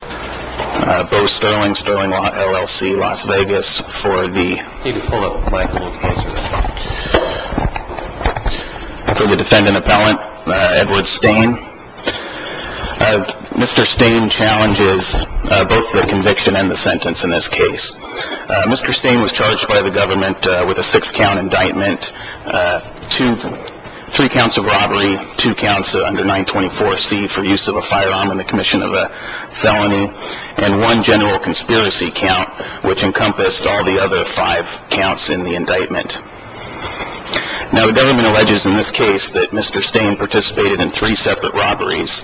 Mr. Stain challenges both the conviction and the sentence in this case. Mr. Stain was charged by the government with a 6 count indictment, 3 counts of robbery, 2 counts under 924c for use of a firearm in the commission of a felony, and 1 general conspiracy count, which encompassed all the other 5 counts in the indictment. Now the government alleges in this case that Mr. Stain participated in 3 separate robberies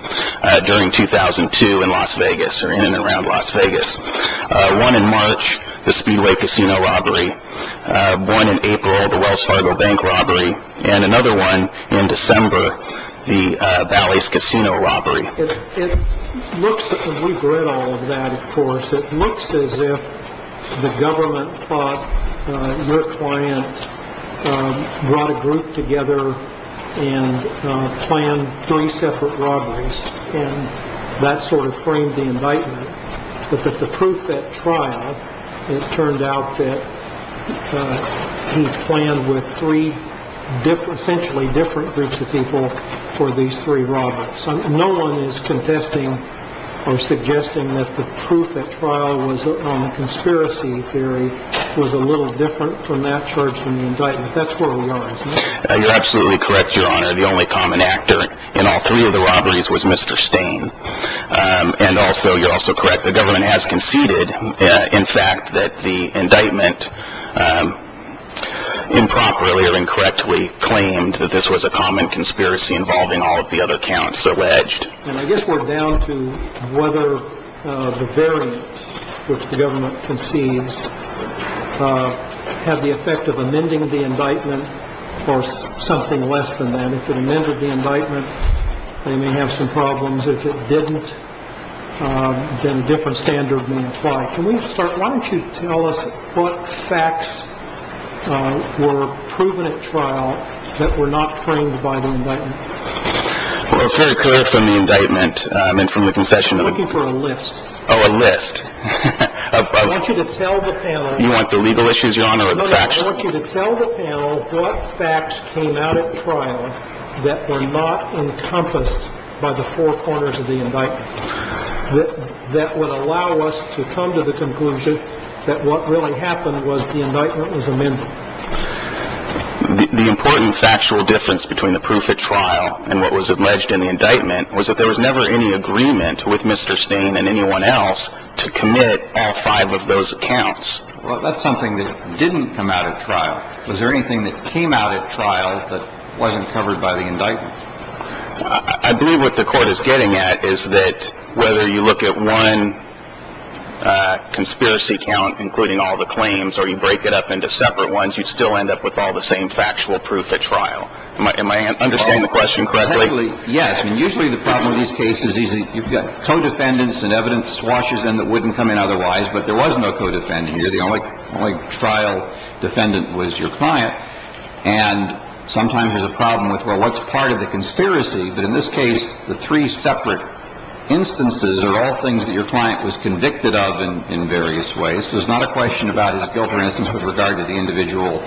during 2002 in Las Vegas, or in and around Las Vegas. One in March, the Speedway Casino robbery. One in April, the Wells Fargo Bank robbery. And another one in December, the Valley's Casino robbery. It looks, and we've read all of that of course, it looks as if the government thought your client brought a group together and planned 3 separate robberies, and that sort of framed the indictment, but that the proof at trial, it turned out that he planned with 3 essentially different groups of people for these 3 robberies. No one is contesting or suggesting that the proof at trial on the conspiracy theory was a little different from that charged in the indictment. That's where we are, isn't it? You're absolutely correct, your honor. The only common actor in all 3 of the robberies was Mr. Stain. And also, you're also correct, the government has conceded, in fact, that the indictment impromptu or incorrectly claimed that this was a common conspiracy involving all of the other counts alleged. And I guess we're down to whether the variance which the government concedes had the effect of amending the indictment or something less than that. If it amended the indictment, they may have some problems. If it didn't, then a different standard may apply. Can we start, why don't you tell us what facts were proven at trial that were not framed by the indictment? Well, it's very clear from the indictment, I mean, from the concession, that we're looking for a list. Oh, a list. I want you to tell the panel. You want the legal issues, your honor, or the facts? I want you to tell the panel what facts came out at trial that were not encompassed by the four corners of the indictment that would allow us to come to the conclusion that what really happened was the indictment was amended. The important factual difference between the proof at trial and what was alleged in the indictment was that there was never any agreement with Mr. Stain and anyone else to commit all five of those accounts. Well, that's something that didn't come out at trial. Was there anything that came out at trial that wasn't covered by the indictment? I believe what the Court is getting at is that whether you look at one conspiracy count, including all the claims, or you break it up into separate ones, you'd still end up with all the same factual proof at trial. Am I understanding the question correctly? Yes. And usually the problem with these cases is you've got co-defendants and evidence swashes in that wouldn't come in otherwise, but there was no co-defendant here. The only trial defendant was your client. And sometimes there's a problem with, well, what's part of the conspiracy? But in this case, the three separate instances are all things that your client was convicted of in various ways, so it's not a question about his guilt, for instance, with regard to the individual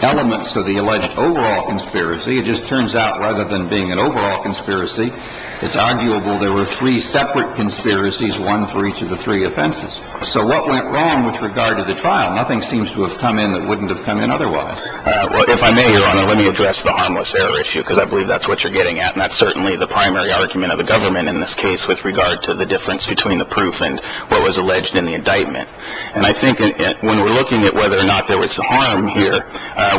elements of the alleged overall conspiracy. It just turns out rather than being an overall conspiracy, it's arguable there were three separate conspiracies, one for each of the three offenses. So what went wrong with regard to the trial? Nothing seems to have come in that wouldn't have come in otherwise. Well, if I may, Your Honor, let me address the harmless error issue, because I believe that's what you're getting at, and that's certainly the primary argument of the government in this case with regard to the difference between the proof and what was alleged in the indictment. And I think when we're looking at whether or not there was harm here,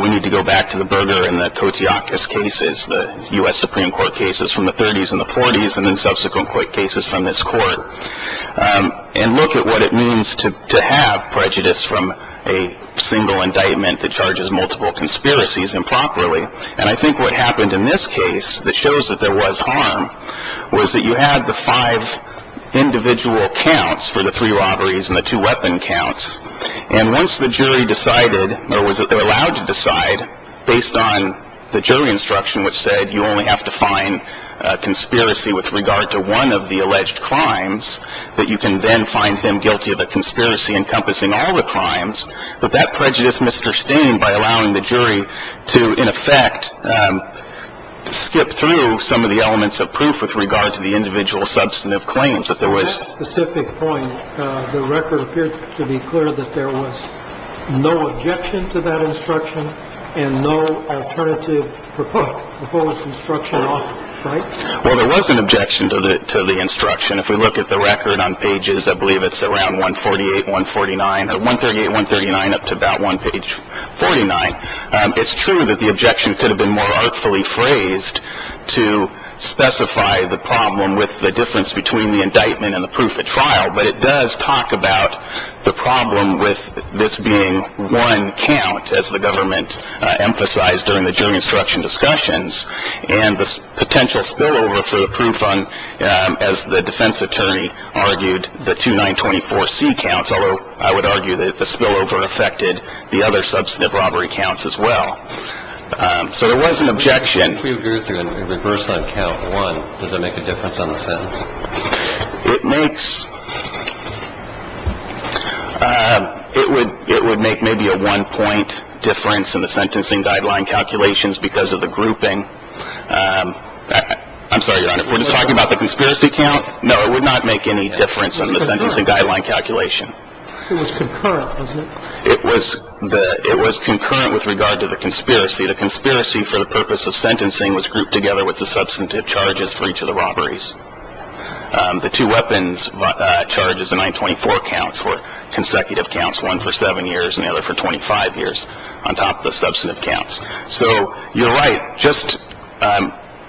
we need to go back to the burger in the Kotiakis cases, the U.S. Supreme Court cases from the 30s and the Supreme Court cases from this court, and look at what it means to have prejudice from a single indictment that charges multiple conspiracies improperly. And I think what happened in this case that shows that there was harm was that you had the five individual counts for the three robberies and the two weapon counts, and once the jury decided or was allowed to decide based on the jury instruction which said you only have to find a conspiracy with regard to one of the alleged crimes, that you can then find them guilty of a conspiracy encompassing all the crimes, that that prejudiced Mr. Steen by allowing the jury to, in effect, skip through some of the elements of proof with regard to the individual substantive claims that there was. On that specific point, the record appeared to be clear that there was no objection to that instruction and no alternative proposed instruction on it, right? Well, there was an objection to the instruction. If we look at the record on pages, I believe it's around 148, 149, 138, 139 up to about one page 49, it's true that the objection could have been more artfully phrased to specify the problem with the difference between the indictment and the proof at trial, but it does talk about the problem with this being one count, as the government emphasized during the jury instruction discussions, and the potential spillover for the proof on, as the defense attorney argued, the 2924C counts, although I would argue that the spillover affected the other substantive robbery counts as well. So there was an objection. If we go through and reverse on count one, does that make a difference on the sentence? It makes, it would, it would make maybe a one point difference in the sentencing guideline calculations because of the grouping. I'm sorry, Your Honor, we're just talking about the conspiracy count? No, it would not make any difference on the sentencing guideline calculation. It was concurrent, wasn't it? It was the, it was concurrent with regard to the conspiracy. The conspiracy for the purpose of sentencing was grouped together with the substantive charges for each of the robberies. The two weapons charges, the 924 counts, were consecutive counts, one for seven years and the other for 25 years on top of the substantive counts. So you're right, just,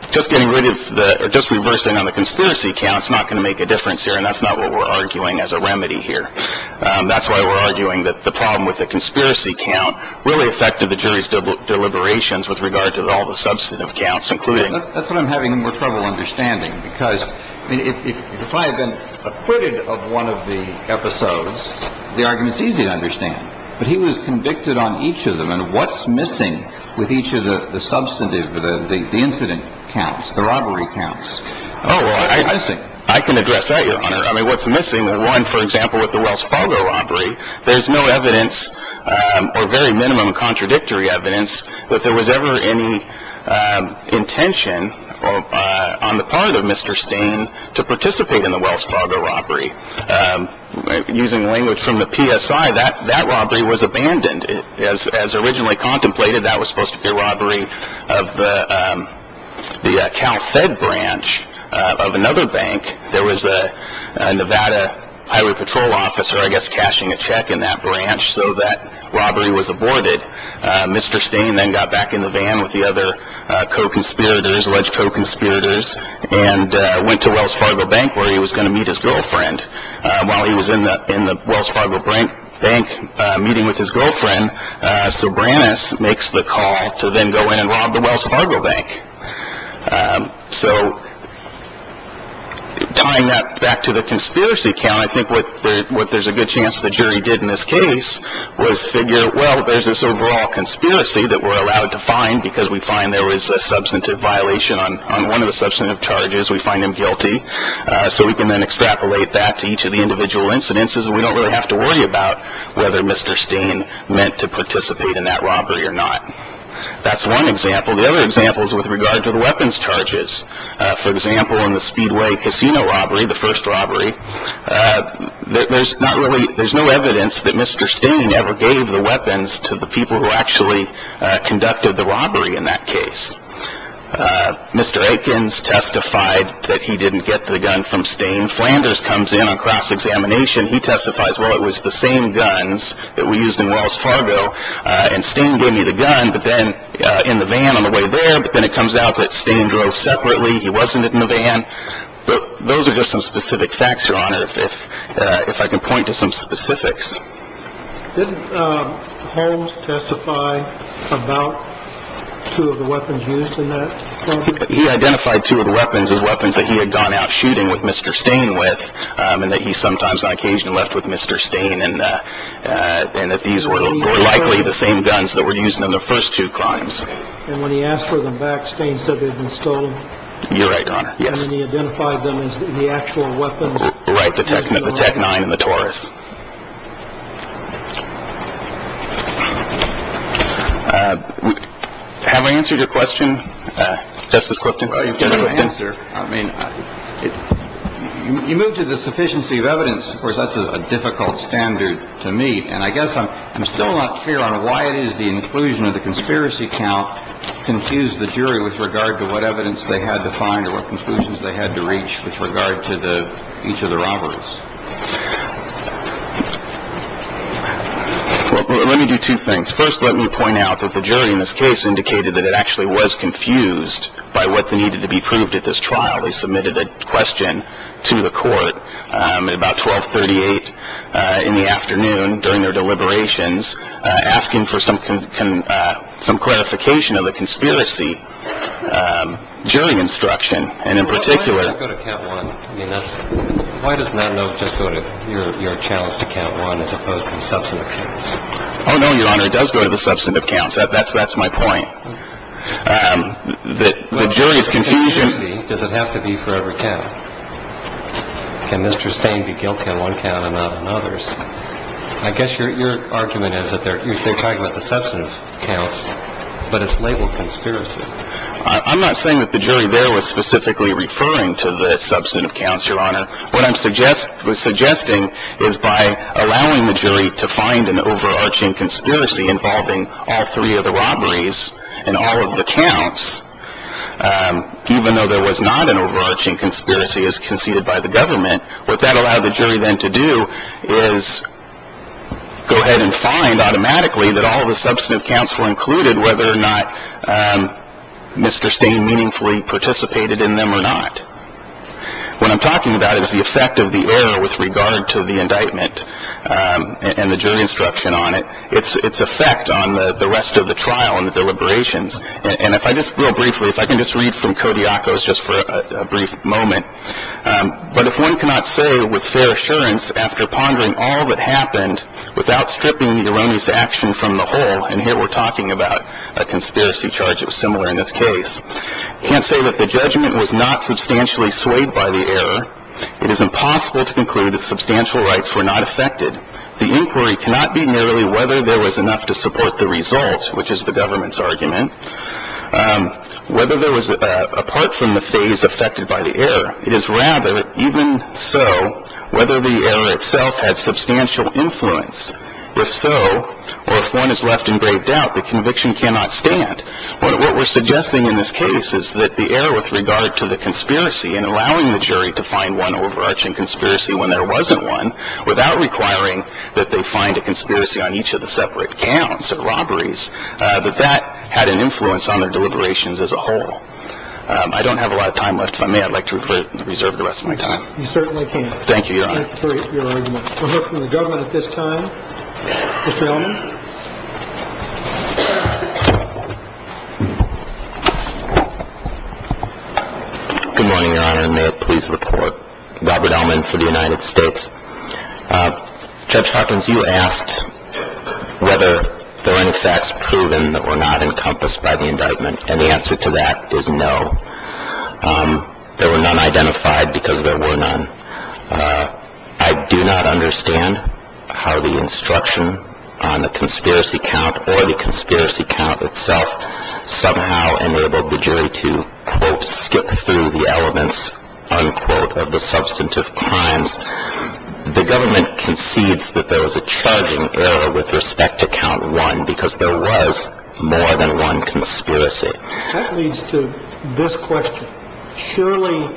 just getting rid of the, or just reversing on the conspiracy count's not gonna make a difference here, and that's not what we're arguing as a remedy here. That's why we're arguing that the problem with the conspiracy count really affected the jury's deliberations with regard to all the substantive counts, including. That's what I'm having more trouble understanding because, I mean, if, if, if I had been acquitted of one of the episodes, the argument's easy to understand, but he was convicted on each of them. And what's missing with each of the, the substantive, the, the, the incident counts, the robbery counts? Oh, well, I, I think I can address that, Your Honor. I mean, what's missing with one, for example, with the Wells Fargo robbery, there's no evidence or very minimum contradictory evidence that there was ever any, um, intention, or, uh, on the part of Mr. Stain to participate in the Wells Fargo robbery. Um, using language from the PSI, that, that robbery was abandoned. As, as originally contemplated, that was supposed to be a robbery of the, um, the, uh, CalFed branch of another bank. There was a, a Nevada Highway Patrol officer, I guess, cashing a check in that branch so that robbery was aborted. Uh, Mr. Stain then got back in the van with the other, uh, co-conspirators, alleged co-conspirators, and, uh, went to Wells Fargo Bank where he was going to meet his girlfriend. Uh, while he was in the, in the Wells Fargo Bank, uh, meeting with his girlfriend, uh, Sobranus makes the call to then go in and rob the Wells Fargo Bank. Um, so tying that back to the conspiracy count, I think what, what there's a good chance the jury did in this case was figure, well, there's this overall conspiracy that we're allowed to find because we find there was a substantive violation on, on one of the substantive charges. We find him guilty. Uh, so we can then extrapolate that to each of the individual incidences and we don't really have to worry about whether Mr. Stain meant to participate in that robbery or not. That's one example. The other example is with regard to the weapons charges. Uh, for example, in the Speedway Casino robbery, the first robbery, uh, there, there's not really, there's no evidence that Mr. Stain ever gave the weapons to the people who actually, uh, conducted the robbery in that case. Uh, Mr. Ekins testified that he didn't get the gun from Stain. Flanders comes in on cross-examination. He testifies, well, it was the same guns that we used in Wells Fargo, uh, and Stain gave me the gun, but then, uh, in the van on the way there, but then it comes out that Stain drove separately. He wasn't in the van. But those are just some specific facts, Your Honor, if, uh, if I can point to some specifics. Didn't, uh, Holmes testify about two of the weapons used in that robbery? He identified two of the weapons as weapons that he had gone out shooting with Mr. Stain with, um, and that he sometimes on occasion left with Mr. Stain and, uh, uh, and that these were likely the same guns that were used in the first two crimes. And when he asked for them back, Stain said they'd been stolen? You're right, Your Honor. Yes. And then he identified them as the actual weapons? Right. The TEC-9 and the Taurus. Uh, have I answered your question, uh, Justice Clifton? Well, you've got the answer. I mean, you move to the sufficiency of evidence. Of course, that's a difficult standard to meet. And I guess I'm still not clear on why it is the inclusion of the conspiracy count confused the jury with regard to what evidence they had to find or what conclusions they had to reach with regard to the, each of the robberies. Let me do two things. First, let me point out that the jury in this case indicated that it actually was confused by what needed to be proved at this trial. They submitted a question to the court, um, at about 1238, uh, in the afternoon during their deliberations, uh, asking for some, some clarification of the conspiracy, um, jury instruction. Why does that go to count one? I mean, that's... Why doesn't that note just go to your challenge to count one as opposed to the substantive counts? Oh, no, Your Honor. It does go to the substantive counts. That's, that's my point. Um, the jury's confusion... Well, does it have to be forever count? Can Mr. Stain be guilty on one count and not on others? I guess your, your argument is that they're, you're, they're talking about the substantive counts, but it's labeled conspiracy. I'm not saying that the jury there was specifically referring to the substantive counts, Your Honor. What I'm suggest, suggesting is by allowing the jury to find an overarching conspiracy involving all three of the robberies and all of the counts, um, even though there was not an overarching conspiracy as conceded by the government, what that allowed the jury then to do is go ahead and find automatically that all of the substantive counts were included whether or not, um, Mr. Stain meaningfully participated in them or not. What I'm talking about is the effect of the error with regard to the indictment, um, and the jury instruction on it, it's, it's effect on the, the rest of the trial and the deliberations. And if I just, real briefly, if I can just read from Kodiakos just for a brief moment, um, but if one cannot say with fair assurance after pondering all that happened without stripping the erroneous action from the whole, and here we're talking about a conspiracy charge that was similar in this case, can't say that the judgment was not substantially swayed by the error. It is impossible to conclude that substantial rights were not affected. The inquiry cannot be merely whether there was enough to support the result, which is the government's argument, um, whether there was, uh, apart from the phase affected by the error, it is rather even so, whether the error itself had substantial influence if so, or if one is left in great doubt, the conviction cannot stand what we're suggesting in this case is that the error with regard to the conspiracy and allowing the jury to find one overarching conspiracy when there wasn't one without requiring that they find a conspiracy on each of the separate counts of robberies, uh, that that had an influence on their deliberations as a whole. Um, I don't have a lot of time left. If I may, I'd like to reserve the rest of my time. You certainly can. Thank you. Your argument for her from the government at this time, Mr. Elman, good morning, your honor. May it please the court. Robert Elman for the United States. Uh, judge Hawkins, you asked whether there were any facts proven that were not encompassed by the indictment. And the answer to that is no. Um, there were none identified because there were none. Uh, I do not understand how the instruction on the conspiracy count or the conspiracy count itself somehow enabled the jury to quote, skip through the elements, unquote, of the substantive crimes. The government concedes that there was a charging error with respect to count one, because there was more than one conspiracy. That leads to this question. Surely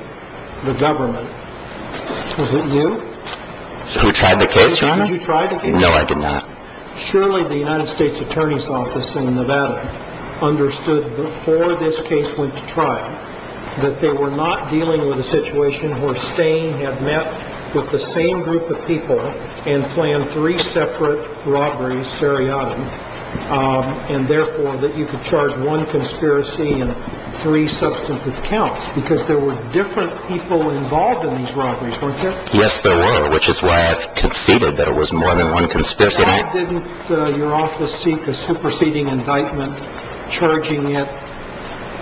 the government, was it you who tried the case, your honor? Did you try the case? No, I did not. Surely the United States attorney's office in Nevada understood before this case went to trial that they were not dealing with a situation where Stain had met with the same group of people and planned three separate robberies, seriatim, um, and therefore that you could charge one conspiracy and three substantive counts because there were different people involved in these robberies, weren't there? Yes, there were, which is why I've conceded that it was more than one conspiracy. Why didn't your office seek a superseding indictment charging it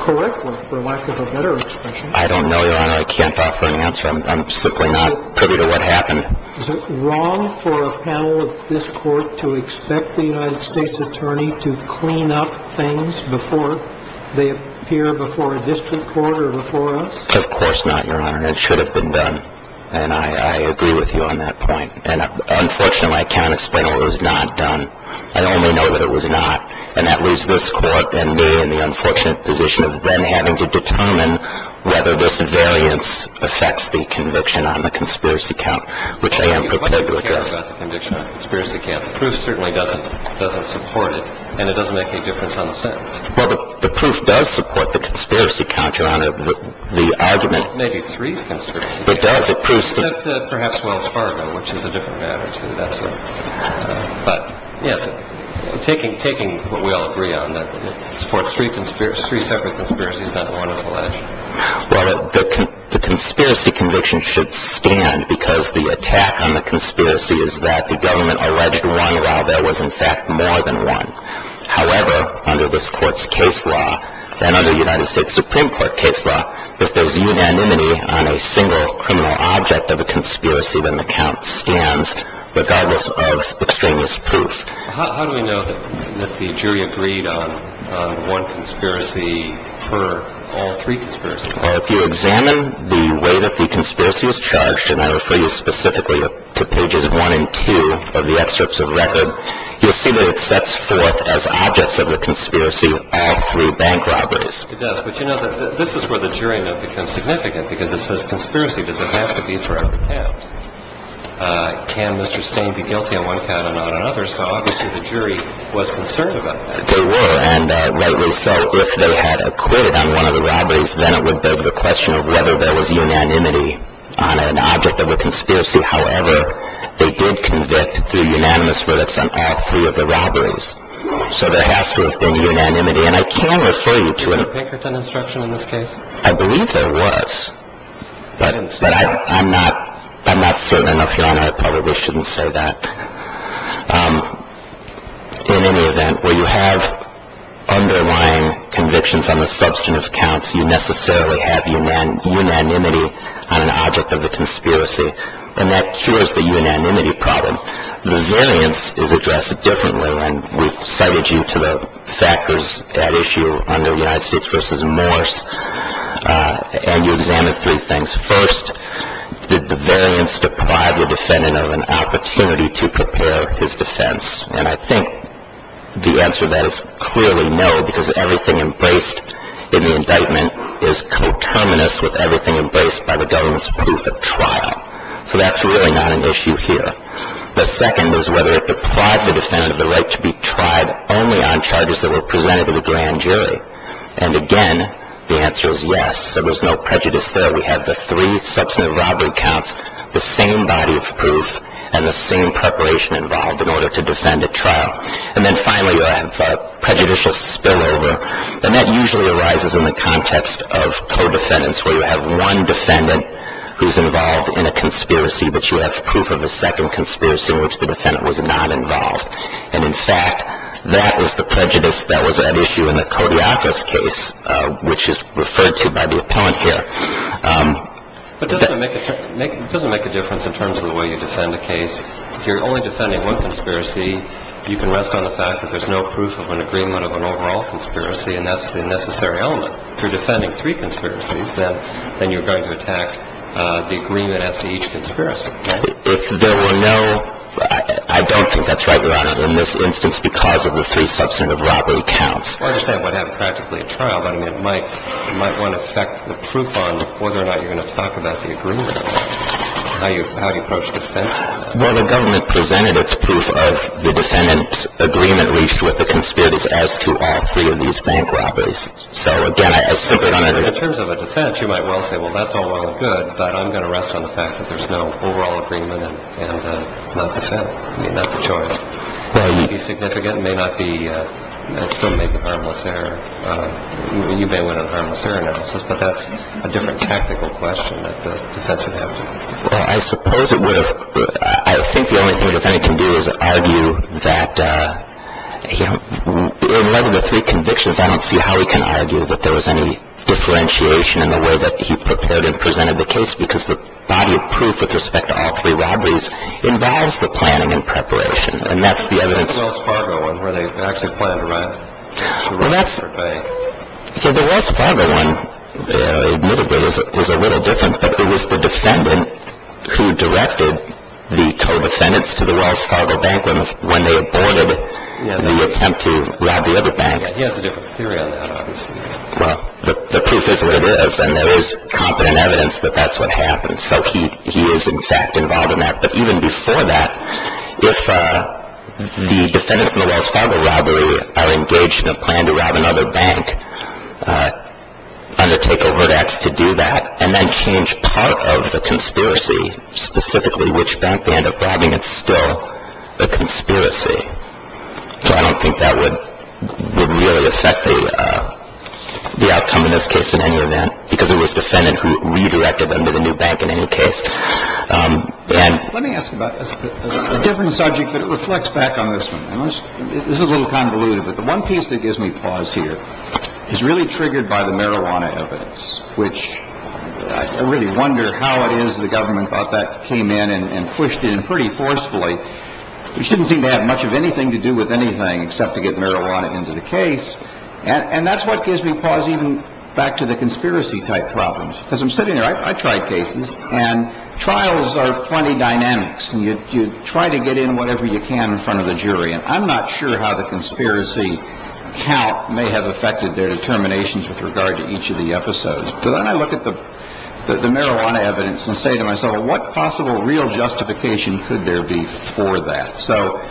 correctly, for lack of a better expression? I don't know, your honor. I can't offer an answer. I'm simply not privy to what happened. Is it wrong for a panel of this court to expect the United States attorney to clean up things before they appear before a district court or before us? Of course not, your honor. And it should have been done. And I agree with you on that point. And unfortunately, I can't explain why it was not done. I only know that it was not. And that leaves this court and me in the unfortunate position of then having to determine whether this variance affects the conviction on the conspiracy count, which I am prepared to address. You don't care about the conviction on the conspiracy count. The proof certainly doesn't support it. And it doesn't make any difference on the sentence. Well, the proof does support the conspiracy count, your honor. The argument – It may be three conspiracy counts. It does. Perhaps Wells Fargo, which is a different matter, too. But, yes, taking what we all agree on, that it supports three separate conspiracies, not one as alleged. Well, the conspiracy conviction should stand because the attack on the conspiracy is that the government alleged one, while there was in fact more than one. However, under this court's case law, and under the United States Supreme Court case law, if there's unanimity on a single criminal object of a conspiracy, then the count stands regardless of extraneous proof. How do we know that the jury agreed on one conspiracy per all three conspiracies? Well, if you examine the way that the conspiracy was charged, and I refer you specifically to pages one and two of the excerpts of the record, you'll see that it sets forth as objects of the conspiracy all three bank robberies. It does. But you know, this is where the jury note becomes significant because it says conspiracy. Does it have to be for every count? Can Mr. Stain be guilty on one count and not on another? So obviously the jury was concerned about that. They were. And rightly so. If they had acquitted on one of the robberies, then it would beg the question of whether there was unanimity on an object of a conspiracy. However, they did convict through unanimous verdicts on all three of the robberies. So there has to have been unanimity. And I can refer you to it. Was there a Pinkerton instruction in this case? I believe there was. But I'm not certain enough. Your Honor, I probably shouldn't say that. In any event, where you have underlying convictions on the substantive counts, you necessarily have unanimity on an object of the conspiracy. And that cures the unanimity problem. The variance is addressed differently. And we've cited you to the factors at issue under United States v. Morse. And you examined three things. First, did the variance deprive the defendant of an opportunity to prepare his defense? And I think the answer to that is clearly no, because everything embraced in the indictment is coterminous with everything embraced by the government's proof of trial. So that's really not an issue here. The second is whether it deprived the defendant of the right to be tried only on charges that were presented to the grand jury. And, again, the answer is yes. There was no prejudice there. We have the three substantive robbery counts, the same body of proof, and the same preparation involved in order to defend a trial. And then, finally, you have prejudicial spillover. And that usually arises in the context of co-defendants, where you have one defendant who's involved in a conspiracy, but you have proof of a second conspiracy in which the defendant was not involved. And, in fact, that was the prejudice that was at issue in the Kodiakos case, which is referred to by the appellant here. But doesn't it make a difference in terms of the way you defend a case? If you're only defending one conspiracy, you can rest on the fact that there's no proof of an agreement of an overall conspiracy, and that's the necessary element. If you're defending three conspiracies, then you're going to attack the agreement as to each conspiracy, right? If there were no – I don't think that's right, Your Honor, in this instance because of the three substantive robbery counts. Well, I understand it would have practically a trial, but, I mean, it might want to affect the proof on whether or not you're going to talk about the agreement. How do you approach this case? Well, the government presented its proof of the defendant's agreement reached with the conspirators as to all three of these bank robberies. So, again, as simply put, Your Honor, in terms of a defense, you might well say, well, that's all well and good, but I'm going to rest on the fact that there's no overall agreement and not defend. I mean, that's a choice. Well, it would be significant. It may not be – it still may be a harmless error. You may win a harmless error analysis, but that's a different tactical question that the defense would have to answer. Well, I suppose it would have – I think the only thing a defendant can do is argue that, you know, in light of the three convictions, I don't see how he can argue that there was any differentiation in the way that he prepared and presented the case because the body of proof with respect to all three robberies involves the planning and preparation, and that's the evidence. What about the Wells Fargo one where they actually planned to run to the Wells Fargo Bank? Well, that's – so the Wells Fargo one, admittably, is a little different, but it was the defendant who directed the co-defendants to the Wells Fargo Bank when they aborted the attempt to rob the other bank. Yeah, he has a different theory on that, obviously. Well, the proof is what it is, and there is competent evidence that that's what happened. So he is, in fact, involved in that. But even before that, if the defendants in the Wells Fargo robbery are engaged in a plan to rob another bank, undertake overt acts to do that, and then change part of the conspiracy, specifically which bank they end up robbing, it's still a conspiracy. So I don't think that would really affect the outcome in this case in any event because it was the defendant who redirected them to the new bank in any case. Let me ask about a different subject, but it reflects back on this one. This is a little convoluted, but the one piece that gives me pause here is really triggered by the marijuana evidence, which I really wonder how it is the government thought that came in and pushed in pretty forcefully, which didn't seem to have much of anything to do with anything except to get marijuana into the case. And that's what gives me pause even back to the conspiracy-type problems. Because I'm sitting there. I tried cases, and trials are funny dynamics, and you try to get in whatever you can in front of the jury. And I'm not sure how the conspiracy count may have affected their determinations with regard to each of the episodes. But then I look at the marijuana evidence and say to myself, what possible real justification could there be for that? So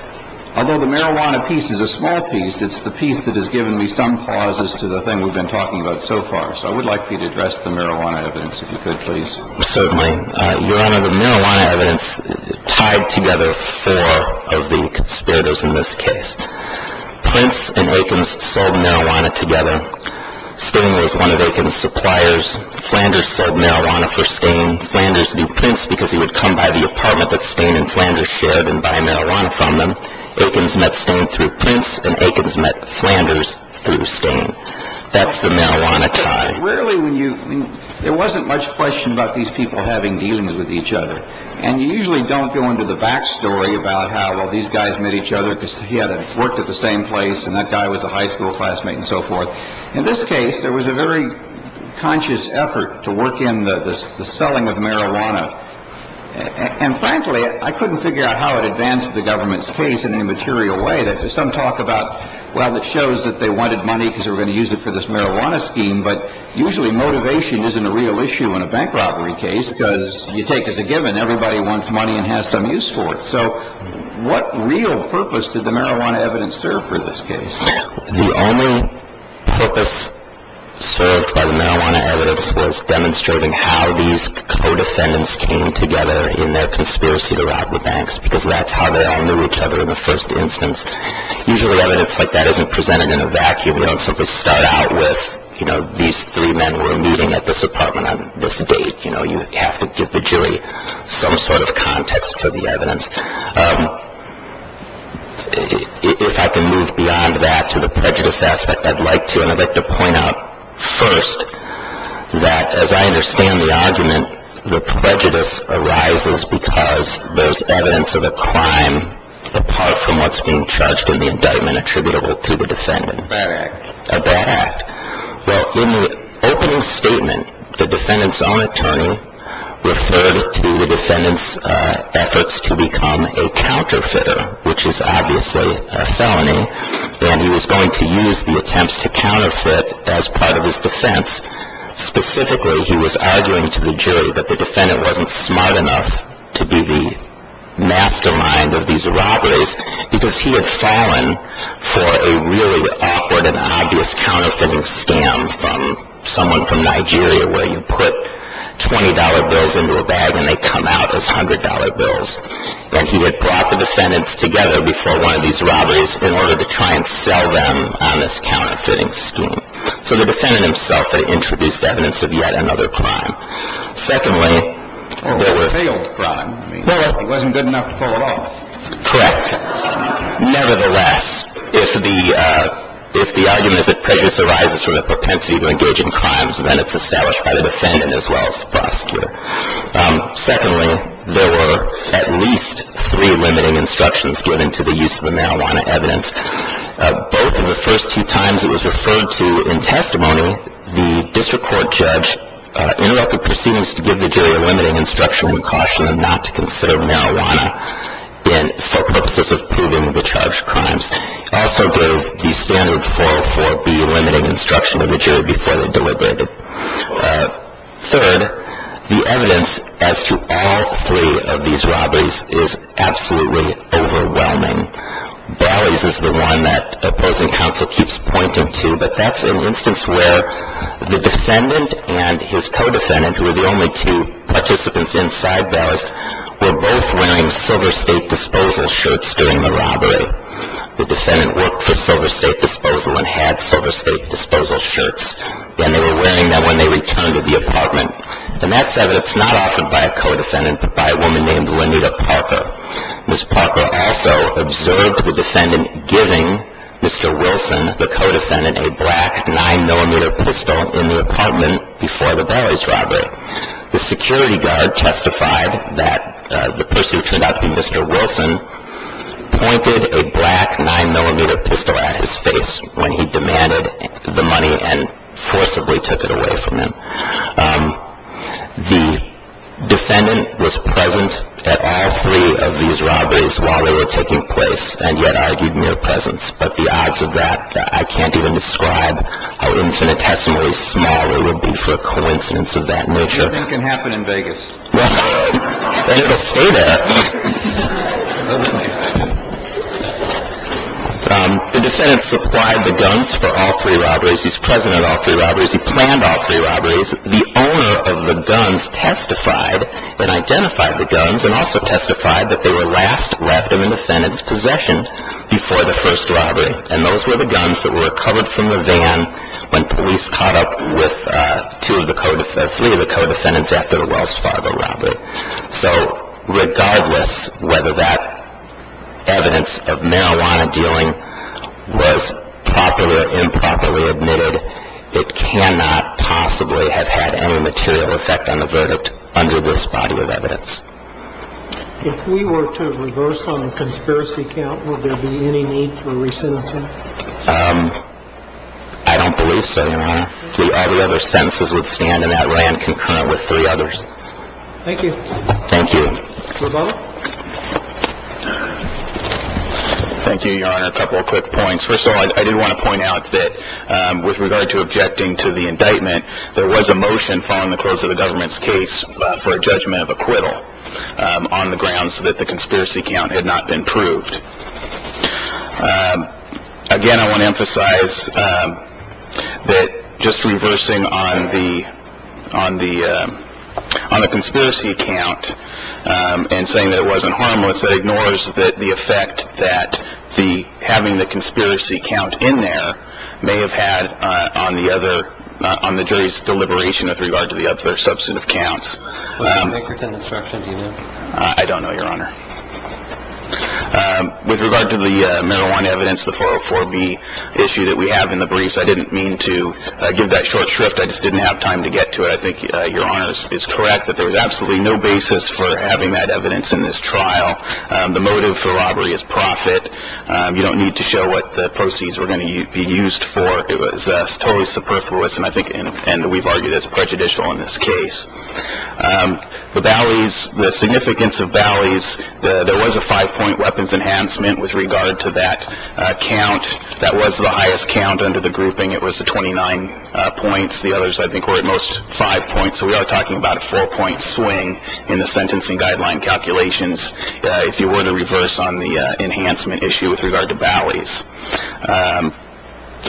although the marijuana piece is a small piece, it's the piece that has given me some pauses to the thing we've been talking about so far. So I would like you to address the marijuana evidence if you could, please. Certainly. Your Honor, the marijuana evidence tied together four of the conspirators in this case. Prince and Eakins sold marijuana together. Stain was one of Eakins' suppliers. Flanders sold marijuana for Stain. Flanders knew Prince because he would come by the apartment that Stain and Flanders shared and buy marijuana from them. Eakins met Stain through Prince, and Eakins met Flanders through Stain. That's the marijuana tie. But rarely when you – there wasn't much question about these people having dealings with each other. And you usually don't go into the back story about how, well, these guys met each other because he had worked at the same place and that guy was a high school classmate and so forth. In this case, there was a very conscious effort to work in the selling of marijuana. And frankly, I couldn't figure out how it advanced the government's case in an immaterial way. Some talk about, well, it shows that they wanted money because they were going to use it for this marijuana scheme. But usually motivation isn't a real issue in a bank robbery case because you take as a given everybody wants money and has some use for it. So what real purpose did the marijuana evidence serve for this case? The only purpose served by the marijuana evidence was demonstrating how these co-defendants came together in their conspiracy to rob the banks because that's how they all knew each other in the first instance. Usually evidence like that isn't presented in a vacuum. You don't simply start out with, you know, these three men were meeting at this apartment on this date. You know, you have to give the jury some sort of context for the evidence. If I can move beyond that to the prejudice aspect, I'd like to. And I'd like to point out first that, as I understand the argument, the prejudice arises because there's evidence of a crime apart from what's being charged in the indictment attributable to the defendant. A bad act. A bad act. Well, in the opening statement, the defendant's own attorney referred to the defendant's efforts to become a counterfeiter, which is obviously a felony, and he was going to use the attempts to counterfeit as part of his defense. Specifically, he was arguing to the jury that the defendant wasn't smart enough to be the mastermind of these robberies because he had fallen for a really awkward and obvious counterfeiting scam from someone from Nigeria where you put $20 bills into a bag and they come out as $100 bills. And he had brought the defendants together before one of these robberies in order to try and sell them on this counterfeiting scheme. So the defendant himself had introduced evidence of yet another crime. Well, a failed crime. He wasn't good enough to pull it off. Correct. Nevertheless, if the argument is that prejudice arises from the propensity to engage in crimes, then it's established by the defendant as well as the prosecutor. Secondly, there were at least three limiting instructions given to the use of the marijuana evidence. Both of the first two times it was referred to in testimony, the district court judge interrupted proceedings to give the jury a limiting instruction and cautioned them not to consider marijuana in purposes of proving the charged crimes. He also gave the standard 404B limiting instruction to the jury before they deliberated. Third, the evidence as to all three of these robberies is absolutely overwhelming. Barley's is the one that opposing counsel keeps pointing to, but that's an instance where the defendant and his co-defendant, who were the only two participants inside Barley's, were both wearing Silver State Disposal shirts during the robbery. The defendant worked for Silver State Disposal and had Silver State Disposal shirts, and they were wearing them when they returned to the apartment. And that's evidence not offered by a co-defendant but by a woman named Lenita Parker. Ms. Parker also observed the defendant giving Mr. Wilson, the co-defendant, a black 9-millimeter pistol in the apartment before the Barley's robbery. The security guard testified that the person who turned out to be Mr. Wilson pointed a black 9-millimeter pistol at his face when he demanded the money and forcibly took it away from him. The defendant was present at all three of these robberies while they were taking place, and yet argued mere presence. But the odds of that I can't even describe are infinitesimally small. It would be for a coincidence of that nature. Anything can happen in Vegas. They never stay there. The defendant supplied the guns for all three robberies. He's present at all three robberies. He planned all three robberies. The owner of the guns testified and identified the guns and also testified that they were last left in the defendant's possession before the first robbery. And those were the guns that were recovered from the van when police caught up with three of the co-defendants after the Wells Fargo robbery. So regardless whether that evidence of marijuana dealing was properly or improperly admitted, it cannot possibly have had any material effect on the verdict under this body of evidence. If we were to reverse on the conspiracy count, would there be any need for recensing? I don't believe so, Your Honor. All the other sentences would stand in that way and concurrent with three others. Thank you. Thank you. Rebuttal. Thank you, Your Honor. A couple of quick points. First of all, I do want to point out that with regard to objecting to the indictment, there was a motion following the close of the government's case for a judgment of acquittal on the grounds that the conspiracy count had not been proved. Again, I want to emphasize that just reversing on the conspiracy count and saying that it wasn't harmless, that ignores the effect that having the conspiracy count in there may have had on the jury's deliberation with regard to the other substantive counts. Was there a break written instruction in it? I don't know, Your Honor. With regard to the marijuana evidence, the 404B issue that we have in the briefs, I didn't mean to give that short shrift. I just didn't have time to get to it. I think Your Honor is correct that there was absolutely no basis for having that evidence in this trial. The motive for robbery is profit. You don't need to show what the proceeds were going to be used for. It was totally superfluous, and I think we've argued it's prejudicial in this case. The significance of Bally's, there was a five-point weapons enhancement with regard to that count. That was the highest count under the grouping. It was the 29 points. The others I think were at most five points, so we are talking about a four-point swing in the sentencing guideline calculations if you were to reverse on the enhancement issue with regard to Bally's.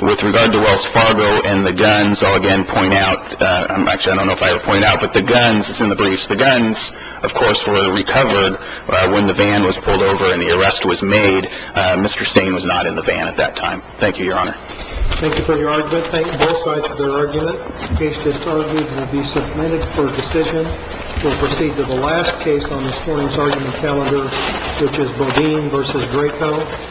With regard to Wells Fargo and the guns, I'll again point out, actually I don't know if I would point out, but the guns, it's in the briefs, the guns, of course, were recovered when the van was pulled over and the arrest was made. Mr. Stain was not in the van at that time. Thank you, Your Honor. Thank you for your argument. Thank both sides for their argument. The case just argued will be submitted for decision. We'll proceed to the last case on this morning's argument calendar, which is Bodine v. Draco.